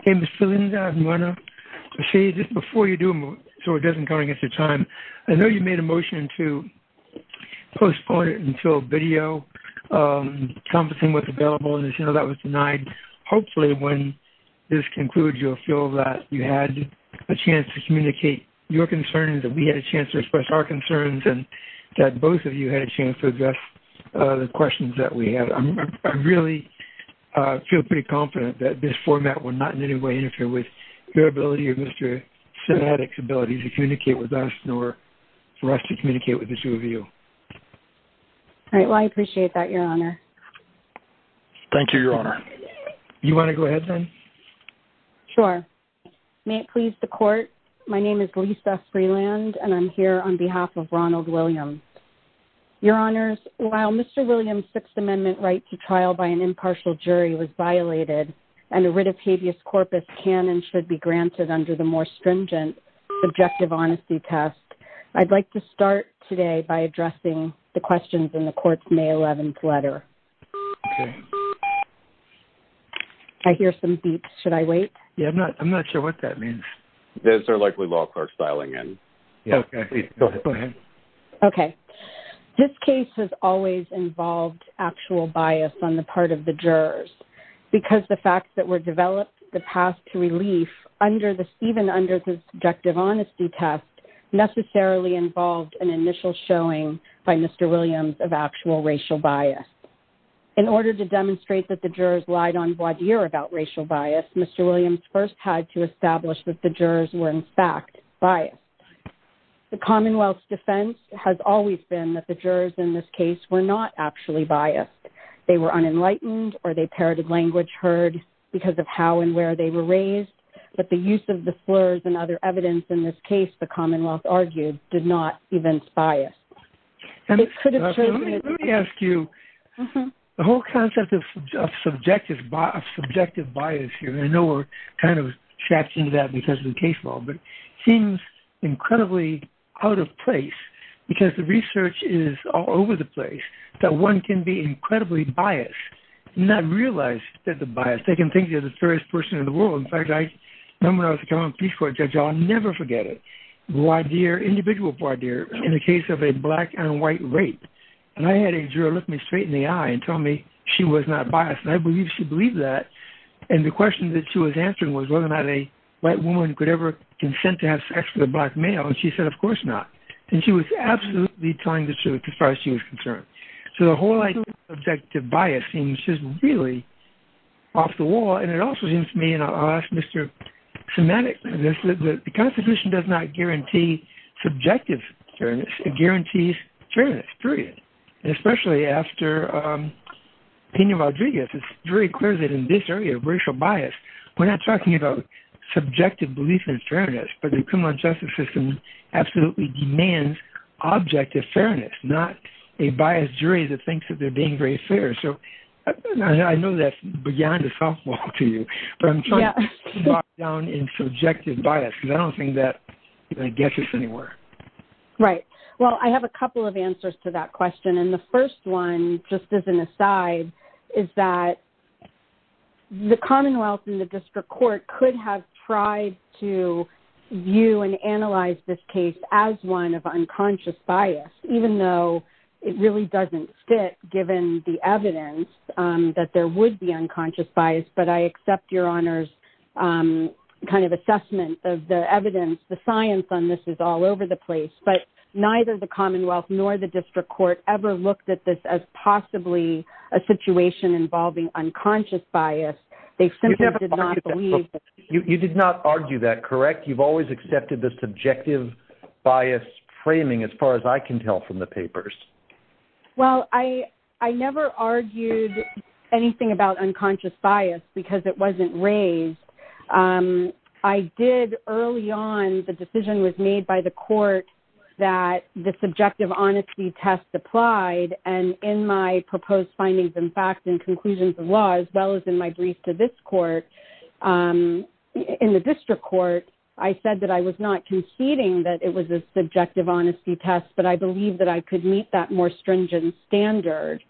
Okay Ms. Felinza I want to say just before you do so it doesn't go against your time I know you made a motion to postpone it until video conferencing was available and as you know that was denied hopefully when this concludes you'll feel that you had a chance to communicate your concerns that we had a chance to express our concerns and that both of you had a chance to address the questions that we had I really feel pretty confident that this format will not in any way interfere with your ability or Mr. Sinatik's ability to communicate with us nor for us to communicate with the two of you all right well I appreciate that your honor thank you your honor you want to go ahead then sure may it please the court my name is Lisa Freeland and I'm here on Mr. Williams Sixth Amendment right to trial by an impartial jury was violated and a writ of habeas corpus can and should be granted under the more stringent objective honesty test I'd like to start today by addressing the questions in the court's May 11th letter I hear some beeps should I wait yeah I'm not I'm not sure what that means there's their likely law clerks dialing in okay okay this case has always involved actual bias on the part of the jurors because the facts that were developed the path to relief under the Stephen under subjective honesty test necessarily involved an initial showing by mr. Williams of actual racial bias in order to demonstrate that the jurors lied on what year about racial bias mr. Williams first had to establish that the Commonwealth's defense has always been that the jurors in this case were not actually biased they were unenlightened or they parroted language heard because of how and where they were raised but the use of the slurs and other evidence in this case the Commonwealth argued did not even bias let me ask you the whole concept of subjective bias subjective bias here I know we're kind of incredibly out of place because the research is all over the place that one can be incredibly biased not realize that the bias they can think you're the first person in the world in fact I remember I was a common piece for a judge I'll never forget it why dear individual for dear in the case of a black and white rape and I had a juror look me straight in the eye and tell me she was not biased and I believe she believed that and the question that she was answering was whether or not a white woman could ever consent to have sex with a black male and she said of course not and she was absolutely telling the truth as far as she was concerned so the whole idea of objective bias seems just really off the wall and it also seems to me and I'll ask mr. semantics and this is that the Constitution does not guarantee subjective fairness it guarantees fairness period and especially after opinion Rodriguez it's very clear that in this area of racial bias we're not talking about subjective belief in fairness but the criminal justice system absolutely demands objective fairness not a biased jury that thinks that they're being very fair so I know that's beyond a softball to you but I'm down in subjective bias announcing that I guess it's anywhere right well I have a couple of answers to that question and the first one just as an aside is that the Commonwealth in the to view and analyze this case as one of unconscious bias even though it really doesn't fit given the evidence that there would be unconscious bias but I accept your honors kind of assessment of the evidence the science on this is all over the place but neither the Commonwealth nor the district court ever looked at this as possibly a situation involving unconscious bias they simply you did not argue that correct you've always accepted the subjective bias framing as far as I can tell from the papers well I I never argued anything about unconscious bias because it wasn't raised I did early on the decision was made by the court that the subjective honesty test applied and in my proposed findings in fact in conclusions of law as well as in my brief to this court in the district court I said that I was not conceding that it was a subjective honesty test but I believe that I could meet that more stringent standard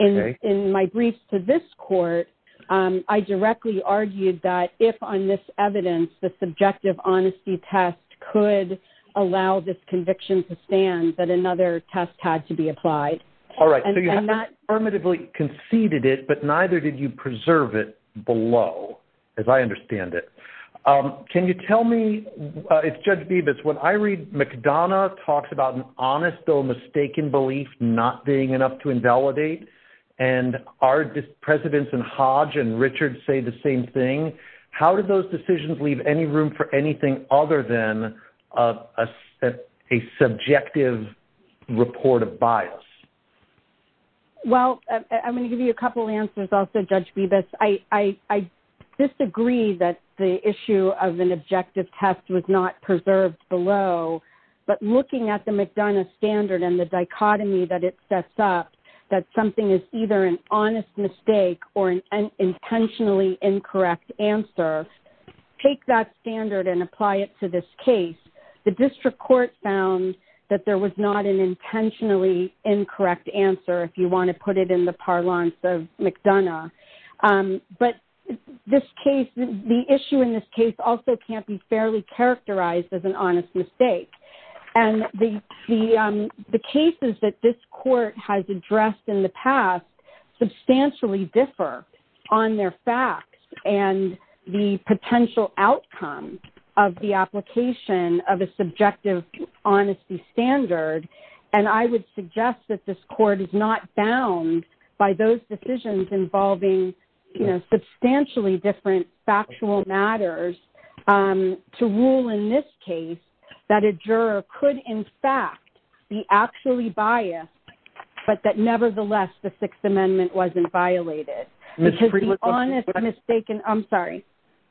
in in my briefs to this court I directly argued that if on this evidence the subjective honesty test could allow this conviction to stand that another test had to be applied all right and not permittably conceded it but neither did you preserve it below as I understand it can you tell me it's judge Beavis when I read McDonough talks about an honest though mistaken belief not being enough to invalidate and our presidents and Hodge and Richard say the same thing how did those decisions leave any room for anything other than a subjective report of bias well I'm going to give you a couple answers also judge be this I I disagree that the issue of an objective test was not preserved below but looking at the McDonough standard and the dichotomy that it sets up that something is either an honest mistake or an intentionally incorrect answer take that standard and apply it to this case the district court found that there was not an intentionally incorrect answer if you want to put it in the parlance of McDonough but this case the issue in this case also can't be fairly characterized as an honest mistake and the the cases that this court has addressed in the past substantially differ on their facts and the potential outcome of the application of a subjective honesty standard and I would suggest that this court is not bound by those decisions involving you know substantially different factual matters to rule in this case that a juror could in fact be actually biased but that nevertheless the Sixth Amendment wasn't violated honestly mistaken I'm sorry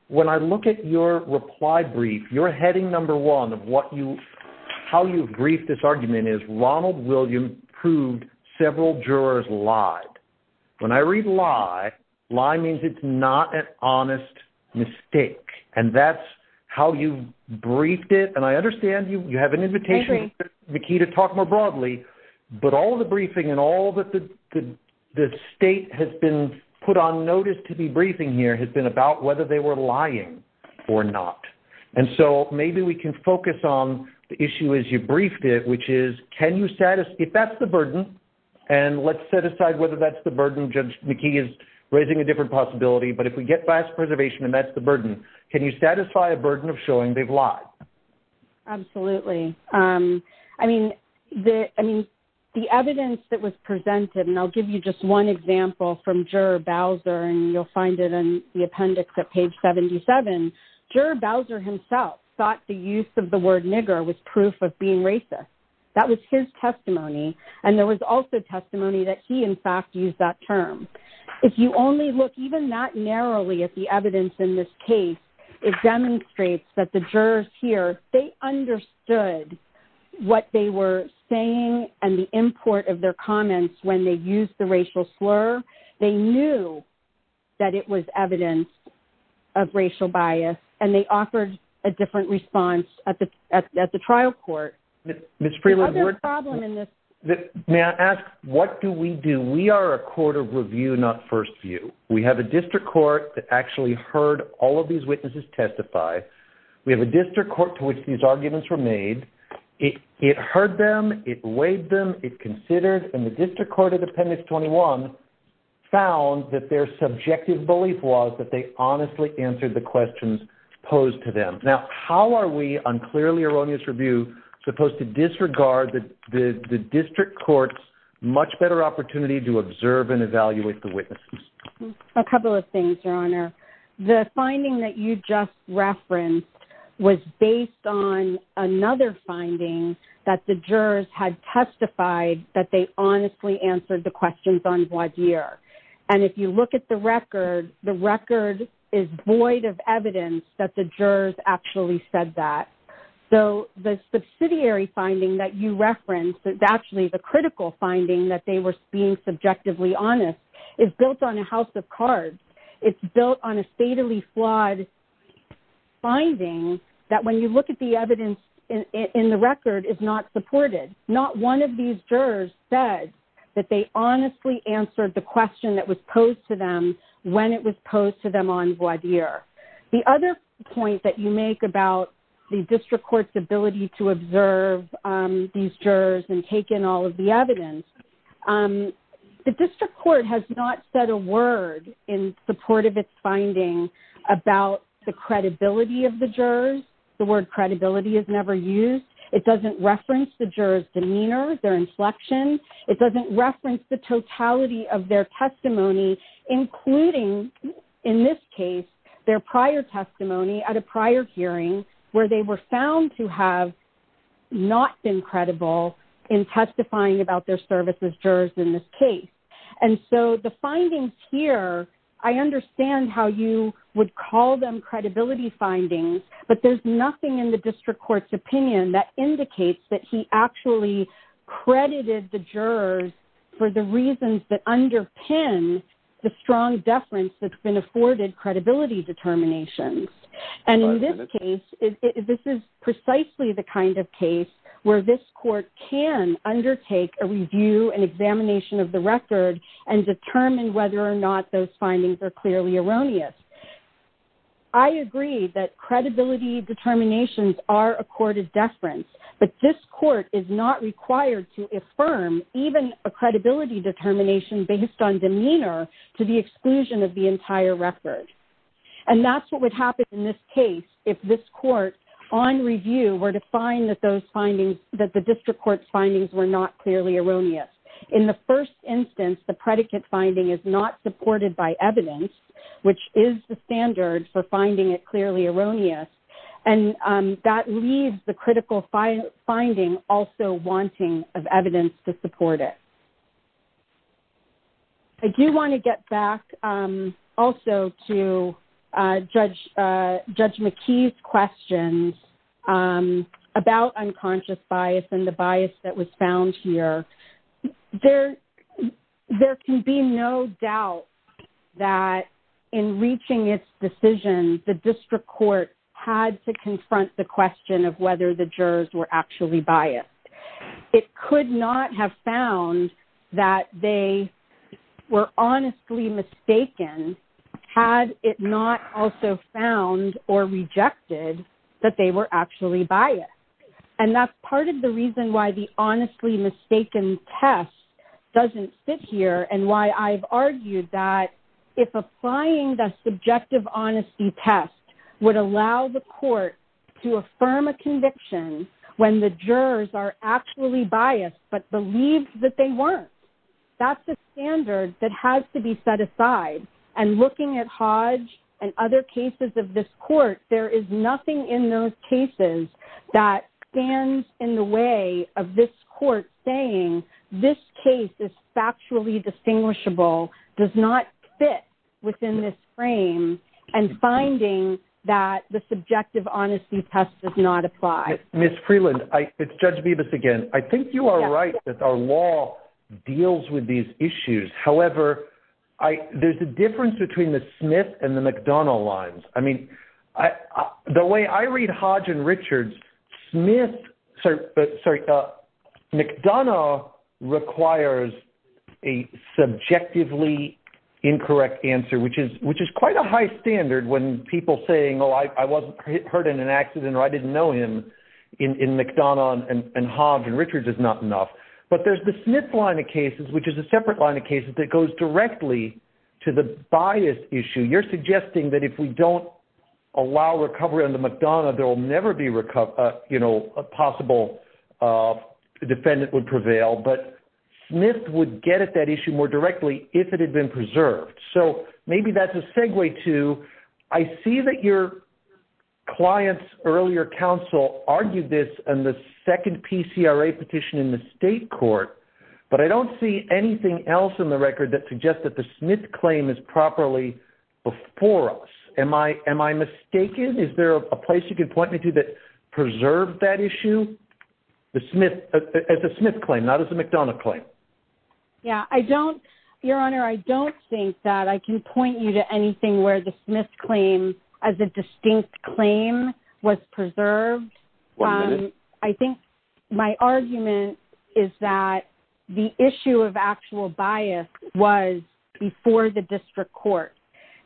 when I look at your reply brief you're heading number one of what you how you brief this argument is Ronald William proved several jurors lied when I read lie lie means it's not an honest mistake and that's how you briefed it and I understand you you have an invitation the key to talk more broadly but all the briefing and all that the the state has been put on notice to be briefing here has been about whether they were lying or not and so maybe we can focus on the issue as you briefed it which is can you satisfy if that's the burden and let's set aside whether that's the burden judge Mickey is raising a different possibility but if we get vast preservation and that's the burden can you satisfy a burden of showing they've absolutely I mean the I mean the evidence that was presented and I'll give you just one example from juror Bowser and you'll find it in the appendix at page 77 juror Bowser himself thought the use of the word nigger was proof of being racist that was his testimony and there was also testimony that he in fact used that term if you only look even that narrowly at the jurors here they understood what they were saying and the import of their comments when they use the racial slur they knew that it was evidence of racial bias and they offered a different response at the at the trial court Miss Freeland may I ask what do we do we are a court of review not first view we have a district court that actually heard all of these witnesses testify we have a district court to which these arguments were made it it heard them it weighed them it considered and the district court of appendix 21 found that their subjective belief was that they honestly answered the questions posed to them now how are we unclearly erroneous review supposed to disregard that the district courts much better opportunity to observe and evaluate the witnesses a finding that you just referenced was based on another finding that the jurors had testified that they honestly answered the questions on what year and if you look at the record the record is void of evidence that the jurors actually said that so the subsidiary finding that you referenced is actually the critical finding that they were being subjectively honest is built on a of cards it's built on a statally flawed finding that when you look at the evidence in the record is not supported not one of these jurors said that they honestly answered the question that was posed to them when it was posed to them on what year the other point that you make about the district courts ability to observe these jurors and take in all of the evidence the district court has not said a word in support of its finding about the credibility of the jurors the word credibility is never used it doesn't reference the jurors demeanor their inflection it doesn't reference the totality of their testimony including in this case their prior testimony at a prior hearing where they were found to have not been credible in testifying about their services jurors in this case and so the findings here I understand how you would call them credibility findings but there's nothing in the district courts opinion that indicates that he actually credited the jurors for the reasons that underpin the strong deference that's been afforded credibility determinations and in this case this is precisely the kind of case where this examination of the record and determine whether or not those findings are clearly erroneous I agree that credibility determinations are accorded deference but this court is not required to affirm even a credibility determination based on demeanor to the exclusion of the entire record and that's what would happen in this case if this court on review were to find that finding that the district court findings were not clearly erroneous in the first instance the predicate finding is not supported by evidence which is the standard for finding it clearly erroneous and that leaves the critical finding also wanting of evidence to support it I do want to get back also to judge McKee's questions about unconscious bias and the bias that was found here there there can be no doubt that in reaching its decision the district court had to confront the question of whether the jurors were actually biased it could not have found that they were honestly mistaken had it not also found or rejected that they were actually biased and that's part of the reason why the honestly mistaken test doesn't sit here and why I've argued that if applying the subjective honesty test would allow the court to affirm a conviction when the jurors are actually biased but believed that they and other cases of this court there is nothing in those cases that stands in the way of this court saying this case is factually distinguishable does not fit within this frame and finding that the subjective honesty test does not apply miss Freeland I it's judge me this again I think you are right that our law deals with these issues however I there's a difference between the Smith and the McDonough lines I mean I the way I read Hodge and Richards Smith sir but sorry uh McDonough requires a subjectively incorrect answer which is which is quite a high standard when people saying oh I wasn't hurt in an accident or I didn't know him in McDonough and Hodge and Richards is not enough but there's the Smith line of cases which is a separate line of cases that goes directly to the bias issue you're suggesting that if we don't allow recovery on the McDonough there will never be recovered you know a possible defendant would prevail but Smith would get at that issue more directly if it had been preserved so maybe that's a segue to I see that your clients earlier counsel argued this and the second PCRA petition in the state court but I don't see anything else in the record that suggests that the Smith claim is properly before us am I am I mistaken is there a place you can point me to that preserve that issue the Smith at the Smith claim not as a McDonough claim yeah I don't your honor I don't think that I can point you to anything where the Smith claim as a distinct claim was preserved I think my argument is that the issue of actual bias was before the district court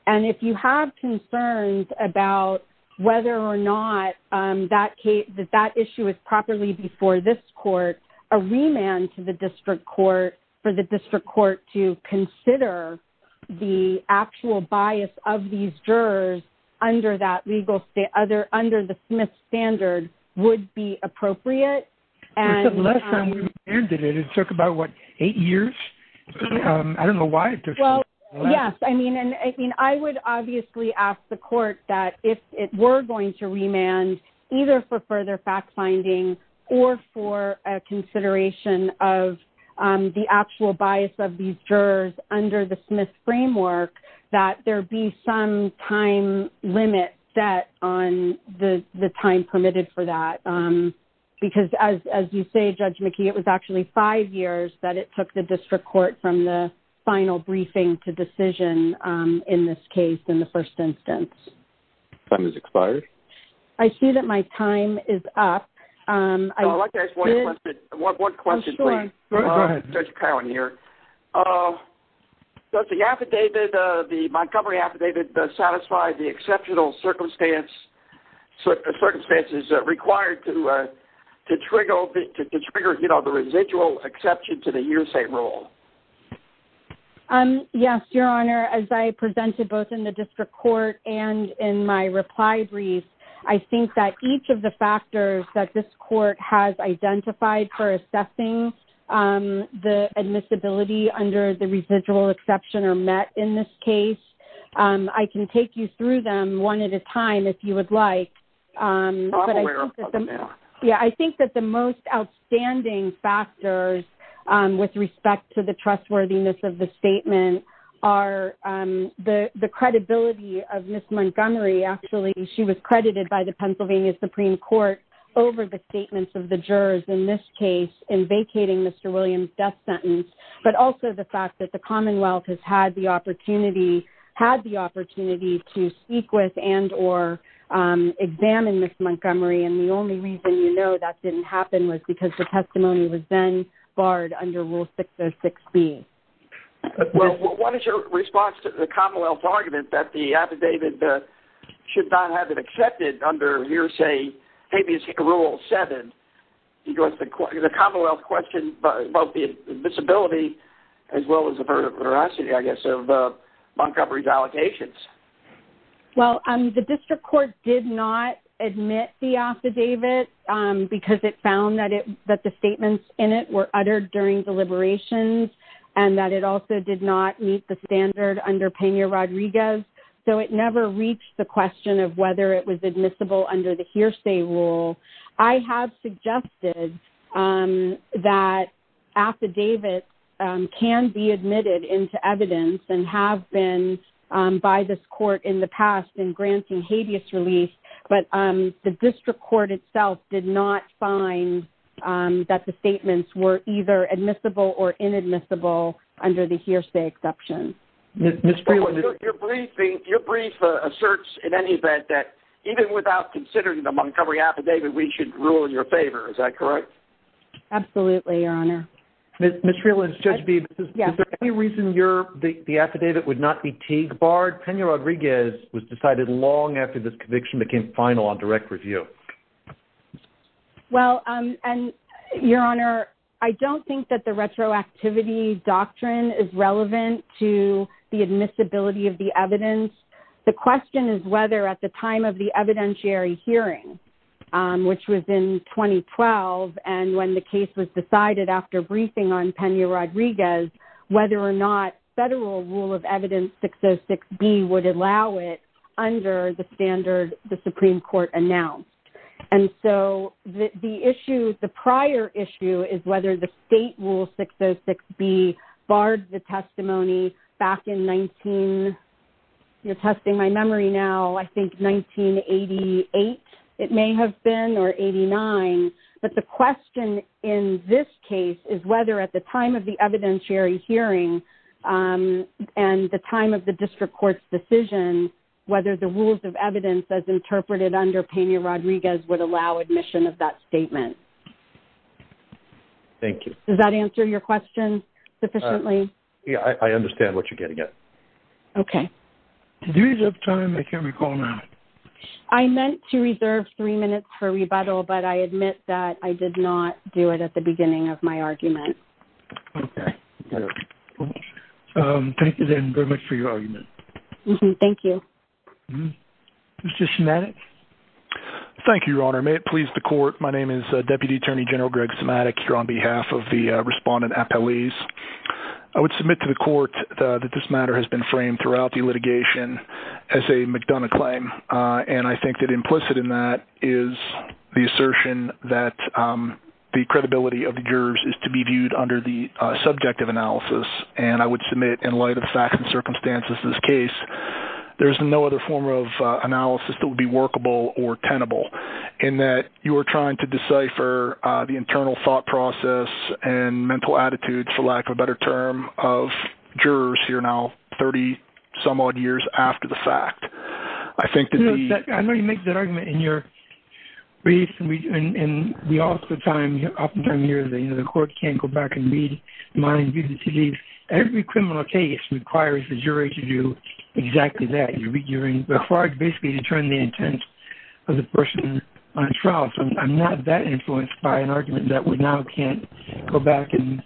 and if you have concerns about whether or not that case that that issue is properly before this court a remand to the district court for the district court to consider the actual bias of these jurors under that legal state other under the Smith standard would be appropriate and it took about what eight years I don't know why well yes I mean and I mean I would obviously ask the court that if it were going to remand either for further fact-finding or for a consideration of the actual bias of these jurors under the Smith framework that there be some time limit set on the the time permitted for that because as you say judge McKee it was actually five years that it took the district court from the final briefing to decision in this case in the first instance time is expired I see that my time is up one question here does the affidavit of the Montgomery affidavit satisfy the exceptional circumstance so the circumstances required to to trigger the trigger you know the residual exception to the hearsay rule yes your honor as I presented both in the district court and in my reply brief I think that each of the factors that this court has identified for assessing the admissibility under the residual exception or met in this case I can take you through them one at a time if you would like yeah I think that the most outstanding factors with respect to the trustworthiness of the statement are the Supreme Court over the statements of the jurors in this case in vacating mr. Williams death sentence but also the fact that the Commonwealth has had the opportunity had the opportunity to speak with and or examine this Montgomery and the only reason you know that didn't happen was because the testimony was then barred under rule 606 B well what is your response to the Commonwealth argument that the affidavit should not have it accepted under hearsay habeas rule 7 you go to the Commonwealth question but both the admissibility as well as the veracity I guess of Montgomery's allocations well I'm the district court did not admit the affidavit because it found that it that the statements in it were uttered during deliberations and that it also did not meet the standard under Pena Rodriguez so it never reached the question of whether it was admissible under the hearsay rule I have suggested that affidavit can be admitted into evidence and have been by this court in the past in granting habeas relief but the district court itself did not find that the statements were either admissible or inadmissible under the hearsay exception your briefing your brief asserts in any event that even without considering the Montgomery affidavit we should rule in your favor is that correct absolutely your honor mr. Lynn's judge be yeah any reason your the affidavit would not be Teague barred Pena Rodriguez was decided long after this conviction became final on direct review well and your honor I don't think that the retroactivity doctrine is relevant to the admissibility of the evidence the question is whether at the time of the evidentiary hearing which was in 2012 and when the case was decided after briefing on Pena Rodriguez whether or not federal rule of evidence 606 B would allow it under the standard the Supreme Court announced and so the issue the prior issue is whether the state rule 606 B barred the testimony back in 19 you're testing my memory now I think 1988 it may have been or 89 but the question in this case is whether at the time of the evidentiary hearing and the time of the district court's decision whether the rules of evidence as thank you does that answer your question sufficiently yeah I understand what you're getting it okay I meant to reserve three minutes for rebuttal but I admit that I did not do it at the beginning of my argument thank you very much for your argument mm-hmm thank you it's just a medic thank you your honor may it please the court my name is Deputy Attorney General Greg somatic here on behalf of the respondent a police I would submit to the court that this matter has been framed throughout the litigation as a McDonough claim and I think that implicit in that is the assertion that the credibility of the jurors is to be viewed under the subjective analysis and I would submit in light of facts and circumstances this case there is no other form of analysis that would be workable or tenable in that you are trying to decipher the internal thought process and mental attitude for lack of a better term of jurors here now 30 some odd years after the fact I think that I know you make that argument in your briefs and we also time you're often time you're the you know the court can't go back and read mind you to leave every criminal case requires the jury to do exactly that you're in required basically to turn the intent of the person on trial so I'm not that influenced by an argument that we now can't go back and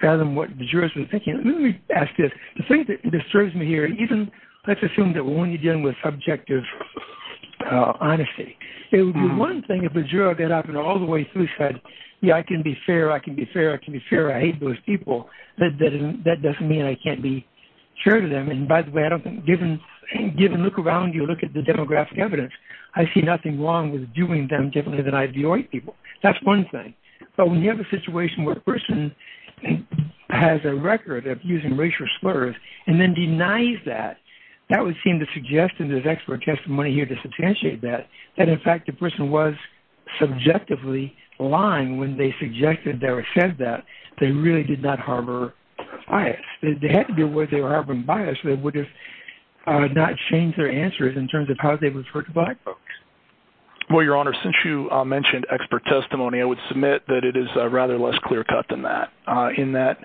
tell them what the jurors are thinking let me ask this the thing that disturbs me here even let's assume that when you're dealing with subjective honesty it would be one thing if the juror get up and all the way through said yeah I can be fair I can be fair I can be fair I hate those people that doesn't mean I can't be sure to them and by the way I don't think even look around you look at the demographic evidence I see nothing wrong with doing them differently than I do people that's one thing but when you have a situation where a person has a record of using racial slurs and then denies that that would seem to suggest in this expert testimony here to substantiate that and in fact the person was subjectively lying when they suggested there it says that they really did not harbor I had to be where they have been biased they would have not changed their answers in terms of how they was hurt by folks well your honor since you mentioned expert testimony I would submit that it is rather less clear-cut than that in that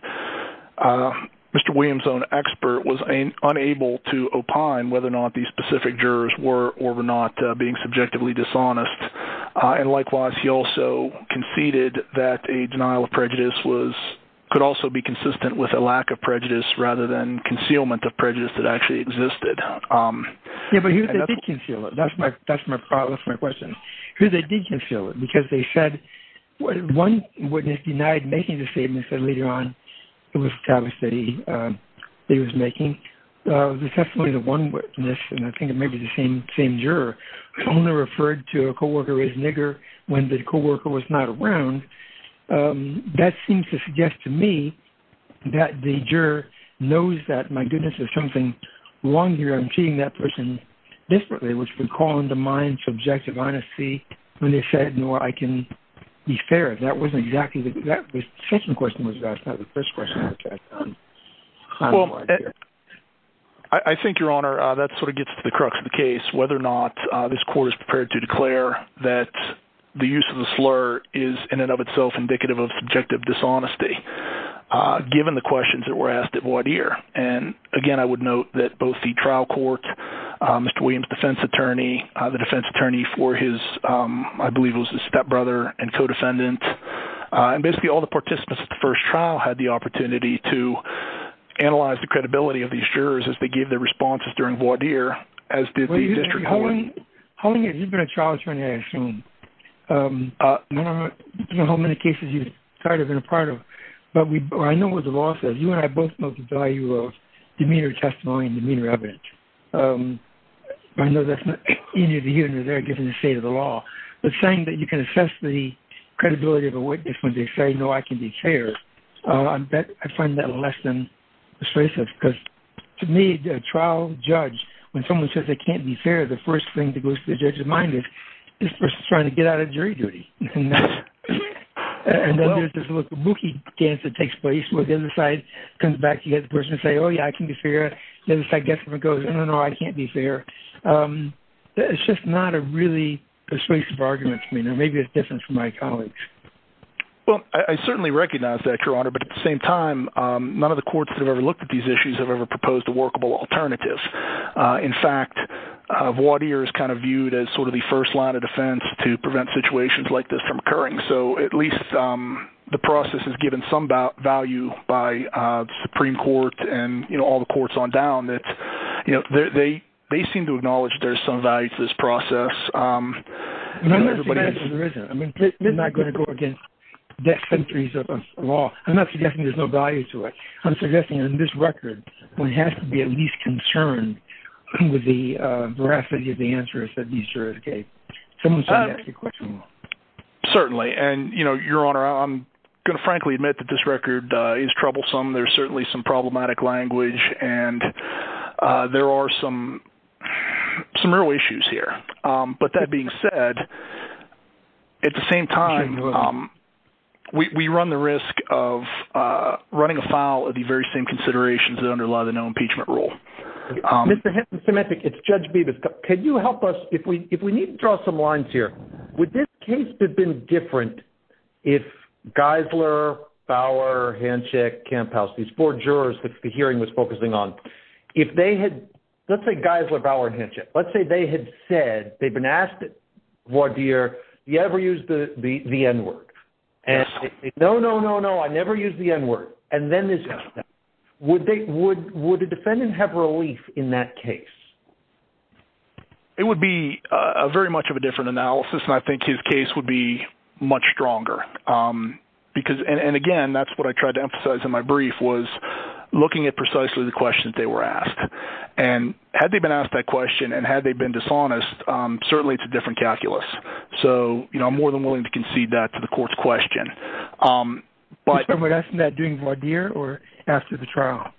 mr. Williams own expert was unable to opine whether or not these specific jurors were or were not being subjectively dishonest and likewise he also conceded that a denial of prejudice was could also be consistent with a lack of concealment of prejudice that actually existed that's my that's my that's my question here they did conceal it because they said what one witness denied making the statement said later on it was established that he he was making the testimony the one witness and I think it may be the same same juror only referred to a co-worker as nigger when the co-worker was not around that seems to suggest to me that the juror knows that my goodness there's something wrong here I'm seeing that person desperately which would call undermine subjective honesty when they said nor I can be fair that wasn't exactly the question was that's not the first question I think your honor that sort of gets to the crux of the case whether or not this court is prepared to declare that the use of the slur is in and of itself indicative of subjective dishonesty given the questions that were asked at what year and again I would note that both the trial court mr. Williams defense attorney the defense attorney for his I believe was his stepbrother and co-defendant and basically all the participants at the first trial had the opportunity to analyze the credibility of these jurors as they gave their responses during what year as did the district holding it you've been a trial attorney I assume how many cases you started in a part of but we I know what the law says you and I both know the value of demeanor testimony and demeanor evidence I know that's not any of the unit there given the state of the law but saying that you can assess the credibility of a witness when they say no I can be fair I bet I can't be fair the first thing to go to the judge of mind is this person's trying to get out of jury duty and then there's this little kabuki dance that takes place where the other side comes back you get the person say oh yeah I can be fair then if I guess if it goes no no I can't be fair it's just not a really persuasive argument I mean there may be a difference from my colleagues well I certainly recognize that your honor but at the same time none of the courts that have ever looked at these issues have ever proposed a workable alternatives in fact of water is kind of viewed as sort of the first line of defense to prevent situations like this from occurring so at least the process is given some value by Supreme Court and you know all the courts on down that you know they they seem to acknowledge there's some value to this process I'm not going to go against death centuries of law I'm not suggesting there's no to it I'm suggesting in this record one has to be at least concerned with the veracity of the answers that these jurors gave certainly and you know your honor I'm gonna frankly admit that this record is troublesome there's certainly some problematic language and there are some some real issues here but that being said at the same time we run the risk of running a file of the very same considerations that underlie the no impeachment rule it's judge beavis could you help us if we if we need to draw some lines here would this case have been different if Geisler Bauer handshake camp house these four jurors that the hearing was focusing on if they had let's say Geisler Bauer handshake let's say they had said they've been asked it what dear you ever use the the the n-word and no no no no I never used the n-word and then this would they would would a defendant have relief in that case it would be a very much of a different analysis and I think his case would be much stronger because and again that's what I tried to emphasize in my brief was looking at precisely the questions they were asked and had they been asked that question and had they been dishonest certainly it's a different calculus so you know I'm more than willing to concede that to the court's question but I would ask that doing what dear or after the trial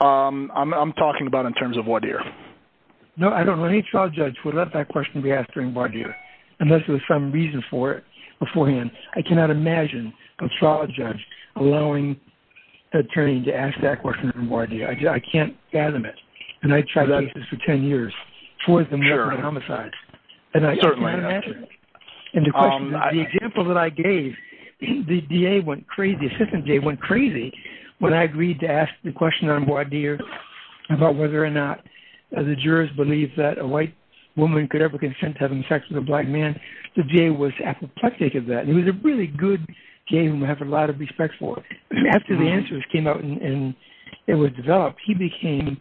I'm talking about in terms of what dear no I don't know any trial judge would let that question be asked during bar dear unless there's some reason for it beforehand I cannot imagine a trial judge allowing attorney to ask that question more idea I just I can't gather it and I tried out this for 10 years for the murder and homicides and I certainly and the example that I gave the DA went crazy assistant day went crazy when I agreed to ask the question on board here about whether or not the jurors believe that a white woman could ever consent to having sex with a black man the day was apoplectic of that it was a really good game we have a lot of respect for after the answers came out and it was developed he became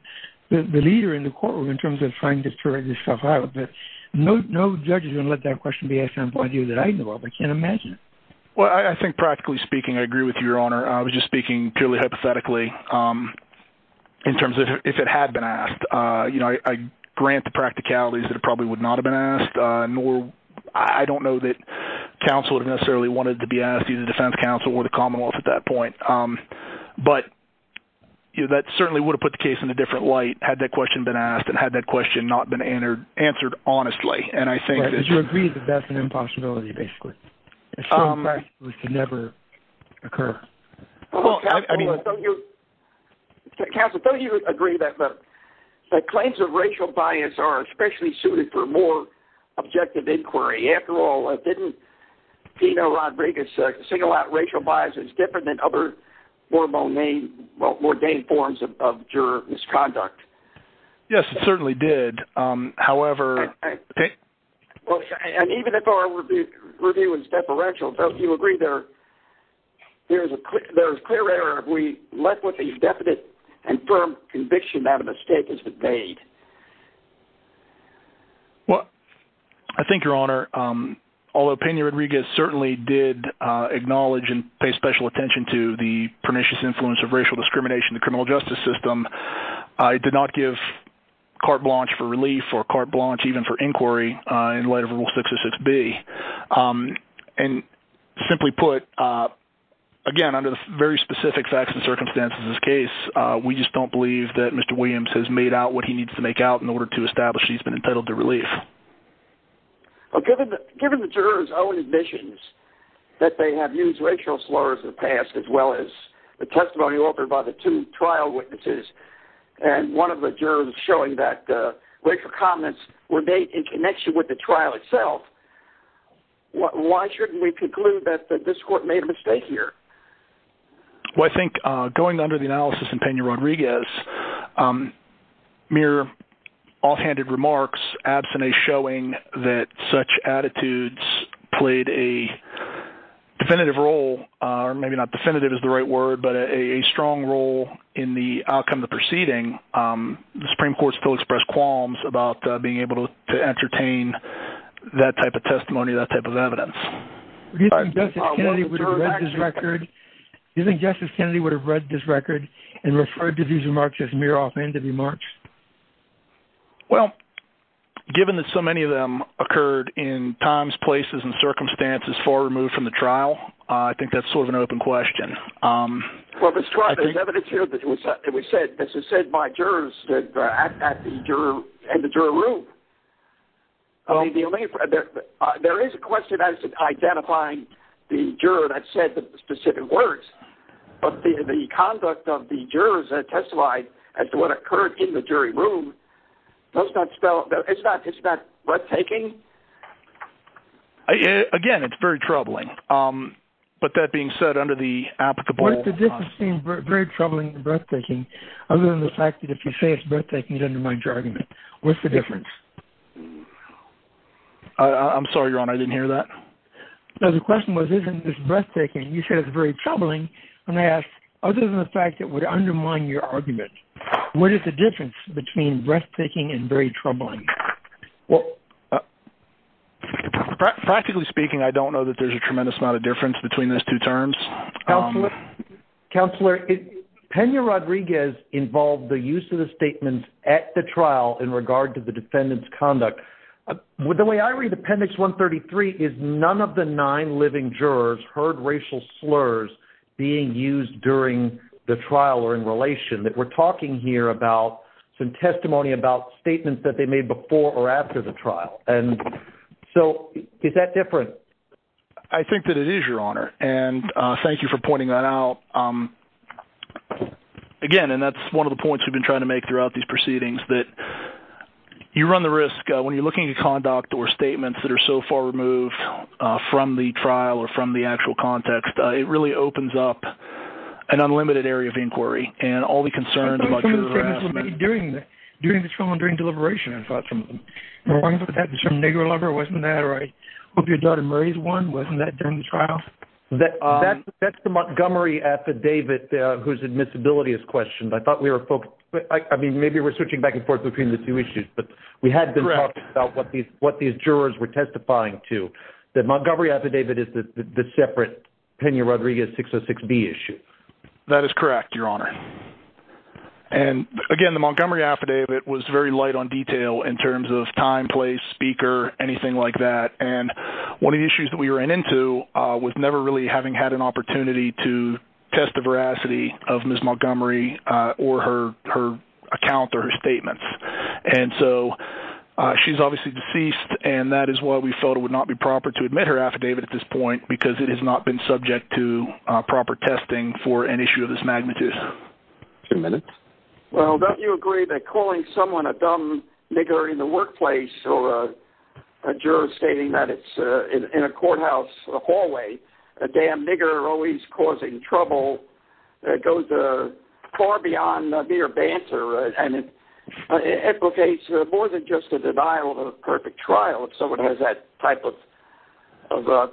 the leader in the courtroom in terms of trying to turn this stuff out but no no judges don't let that question be a simple idea that I know all they can imagine well I think practically speaking I agree with your honor I was just speaking purely hypothetically in terms of if it had been asked you know I grant the practicalities that it probably would not have been asked nor I don't know that counsel would have necessarily wanted to be asked you the defense counsel or the Commonwealth at that point but you that certainly would have put the case in a different light had that question been asked and had that question not been entered answered honestly and I think that you agree that that's an impossibility basically it's all right we should never occur council don't you agree that but the claims of racial bias are especially suited for more objective inquiry after all I didn't see no Rodriguez single out racial bias is different than other formal name well-ordained forms of juror misconduct yes it certainly did however okay and even if our review is deferential don't you agree there there's a quick there's clear error if we left with a definite and firm conviction that a mistake has been made well I think your honor although Pena Rodriguez certainly did acknowledge and pay special attention to the pernicious influence of racial discrimination the criminal justice system I did not give carte blanche for relief or carte blanche even for inquiry in light of rule 606 B and simply put again under the very specific facts and circumstances in this case we just don't believe that mr. Williams has made out what he needs to make out in order to establish he's been entitled to relief okay given the jurors own admissions that they have used racial slurs in the past as well as the testimony offered by the two trial witnesses and one of the jurors showing that racial comments were made in connection with the trial itself why shouldn't we conclude that this court made a mistake here well I think going under the analysis in Pena Rodriguez mere offhanded remarks abstinence showing that such attitudes played a definitive role or maybe not definitive is the right word but a strong role in the outcome the proceeding the Supreme Court's Phil expressed qualms about being able to entertain that type of testimony that type of evidence you think justice Kennedy would have read this record and referred to these remarks as mere offhanded remarks well given that so many of them occurred in times places and circumstances far removed from the trial I think that's sort of an open question um what was driving evidence here that was that we said this is said by jurors that act at the juror and the juror room only the only friend there there is a question as to identifying the juror that said that the specific words but the conduct of the jurors that testified as to what occurred in the jury room let's not spell it's not it's not breathtaking again it's very troubling um but that being said under the applicable very troubling breathtaking other than the fact that if you say it's breathtaking it under my judgment what's the difference I'm sorry your honor I didn't hear that the question was isn't this breathtaking you said it's very troubling when I other than the fact that would undermine your argument what is the difference between breathtaking and very troubling well practically speaking I don't know that there's a tremendous amount of difference between those two terms counselor Kenya Rodriguez involved the use of the statements at the trial in regard to the defendants conduct with the way I read appendix 133 is none of the nine living jurors heard racial slurs being used during the trial or in relation that we're talking here about some testimony about statements that they made before or after the trial and so is that different I think that it is your honor and thank you for pointing that out again and that's one of the points we've been trying to make throughout these proceedings that you run the risk when you're looking at conduct or statements that are so far removed from the trial or from the actual context it really opens up an unlimited area of inquiry and all the concerns about during the during the trial and during deliberation and thought from that was from Negro lover wasn't that right hope your daughter Murray's one wasn't that during the trial that that's the Montgomery affidavit whose admissibility is questioned I thought we were focused but I mean maybe we're switching back and forth between the two issues but we had been talking about what these what these jurors were testifying to that Montgomery affidavit is the separate Pena Rodriguez 606 B issue that is correct your honor and again the Montgomery affidavit was very light on detail in terms of time place speaker anything like that and one of the issues that we ran into was never really having had an opportunity to test the veracity of Miss Montgomery or her her account or statements and so she's obviously deceased and that is why we thought it would not be proper to admit her affidavit at this point because it has not been subject to proper testing for an issue of this magnitude two minutes well don't you agree that calling someone a dumb nigger in the workplace or a juror stating that it's in a courthouse the hallway a damn nigger always causing trouble that goes far beyond mere banter and it implicates more than just a denial of perfect trial if someone has that type of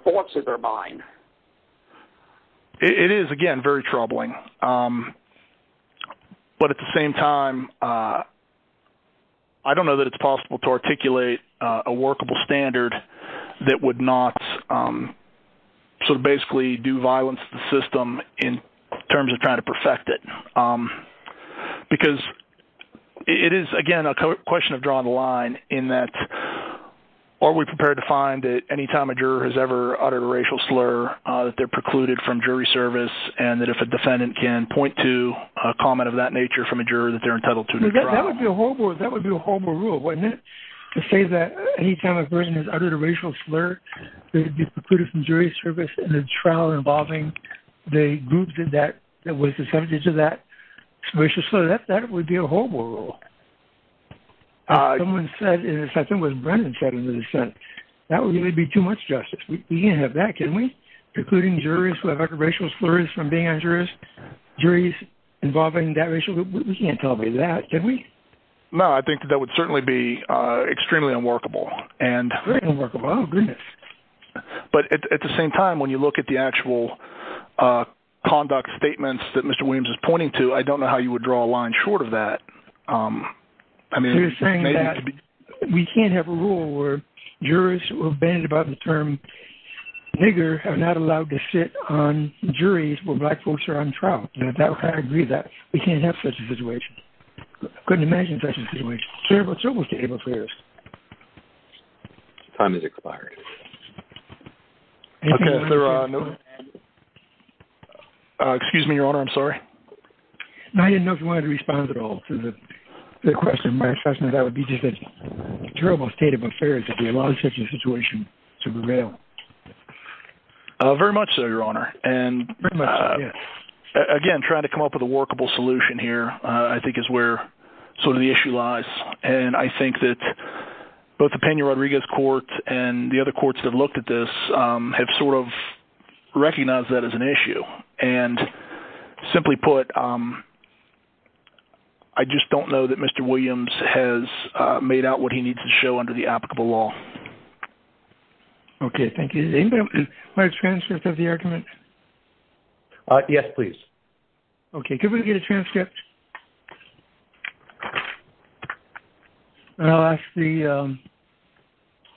thoughts in their mind it is again very troubling but at the same time I don't know that it's possible to articulate a workable standard that would not so basically do violence the system in terms of trying to perfect it because it is again a question of drawing the line in that are we prepared to find that anytime a juror has ever uttered a racial slur that they're precluded from jury service and that if a defendant can point to a comment of that nature from a juror that they're entitled to that would be a whole board that would be a whole more rule wouldn't it to say that anytime a person has uttered a racial slur they'd be precluded from jury service and the trial involving the group did that that was the subject of that we should so that that would be a whole world someone said in this I think was Brendan said in the dissent that would really be too much justice we can't have that can we including jurors who have uttered racial slurs from being injurious juries involving that racial we can't tell me that can we no I think that would certainly be extremely unworkable and but at the same time when you look at the actual conduct statements that mr. Williams is pointing to I don't know how you would draw a line short of that I mean we can't have a rule where jurors will bend about the term nigger have not allowed to sit on juries where black folks are on trial that I agree that we can't have such a situation couldn't imagine such a situation it's almost able fears time is expired okay there are no excuse me your honor I'm sorry I didn't know if you wanted to respond at all to the question my assessment that would be just a terrible state of affairs if you allow such a situation to prevail very much so your honor and again trying to come up with a workable solution here I think is where sort of the issue lies and I think that both the Peña Rodriguez court and the other courts that looked at this have sort of recognized that as an issue and simply put I just don't know that mr. Williams has made out what he needs to show under the applicable law okay thank you my transcript of the argument yes please okay can we get a transcript I'll ask the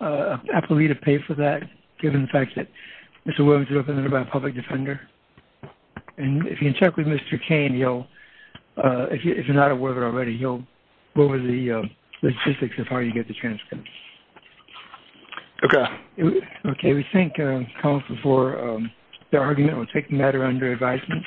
appellee to pay for that given the fact that it's a woman to open it about a public defender and if you check with mr. Kane you know if you're not aware of it already you'll go over the logistics of how you get the transcript okay okay we think come before the argument will take matter under advisement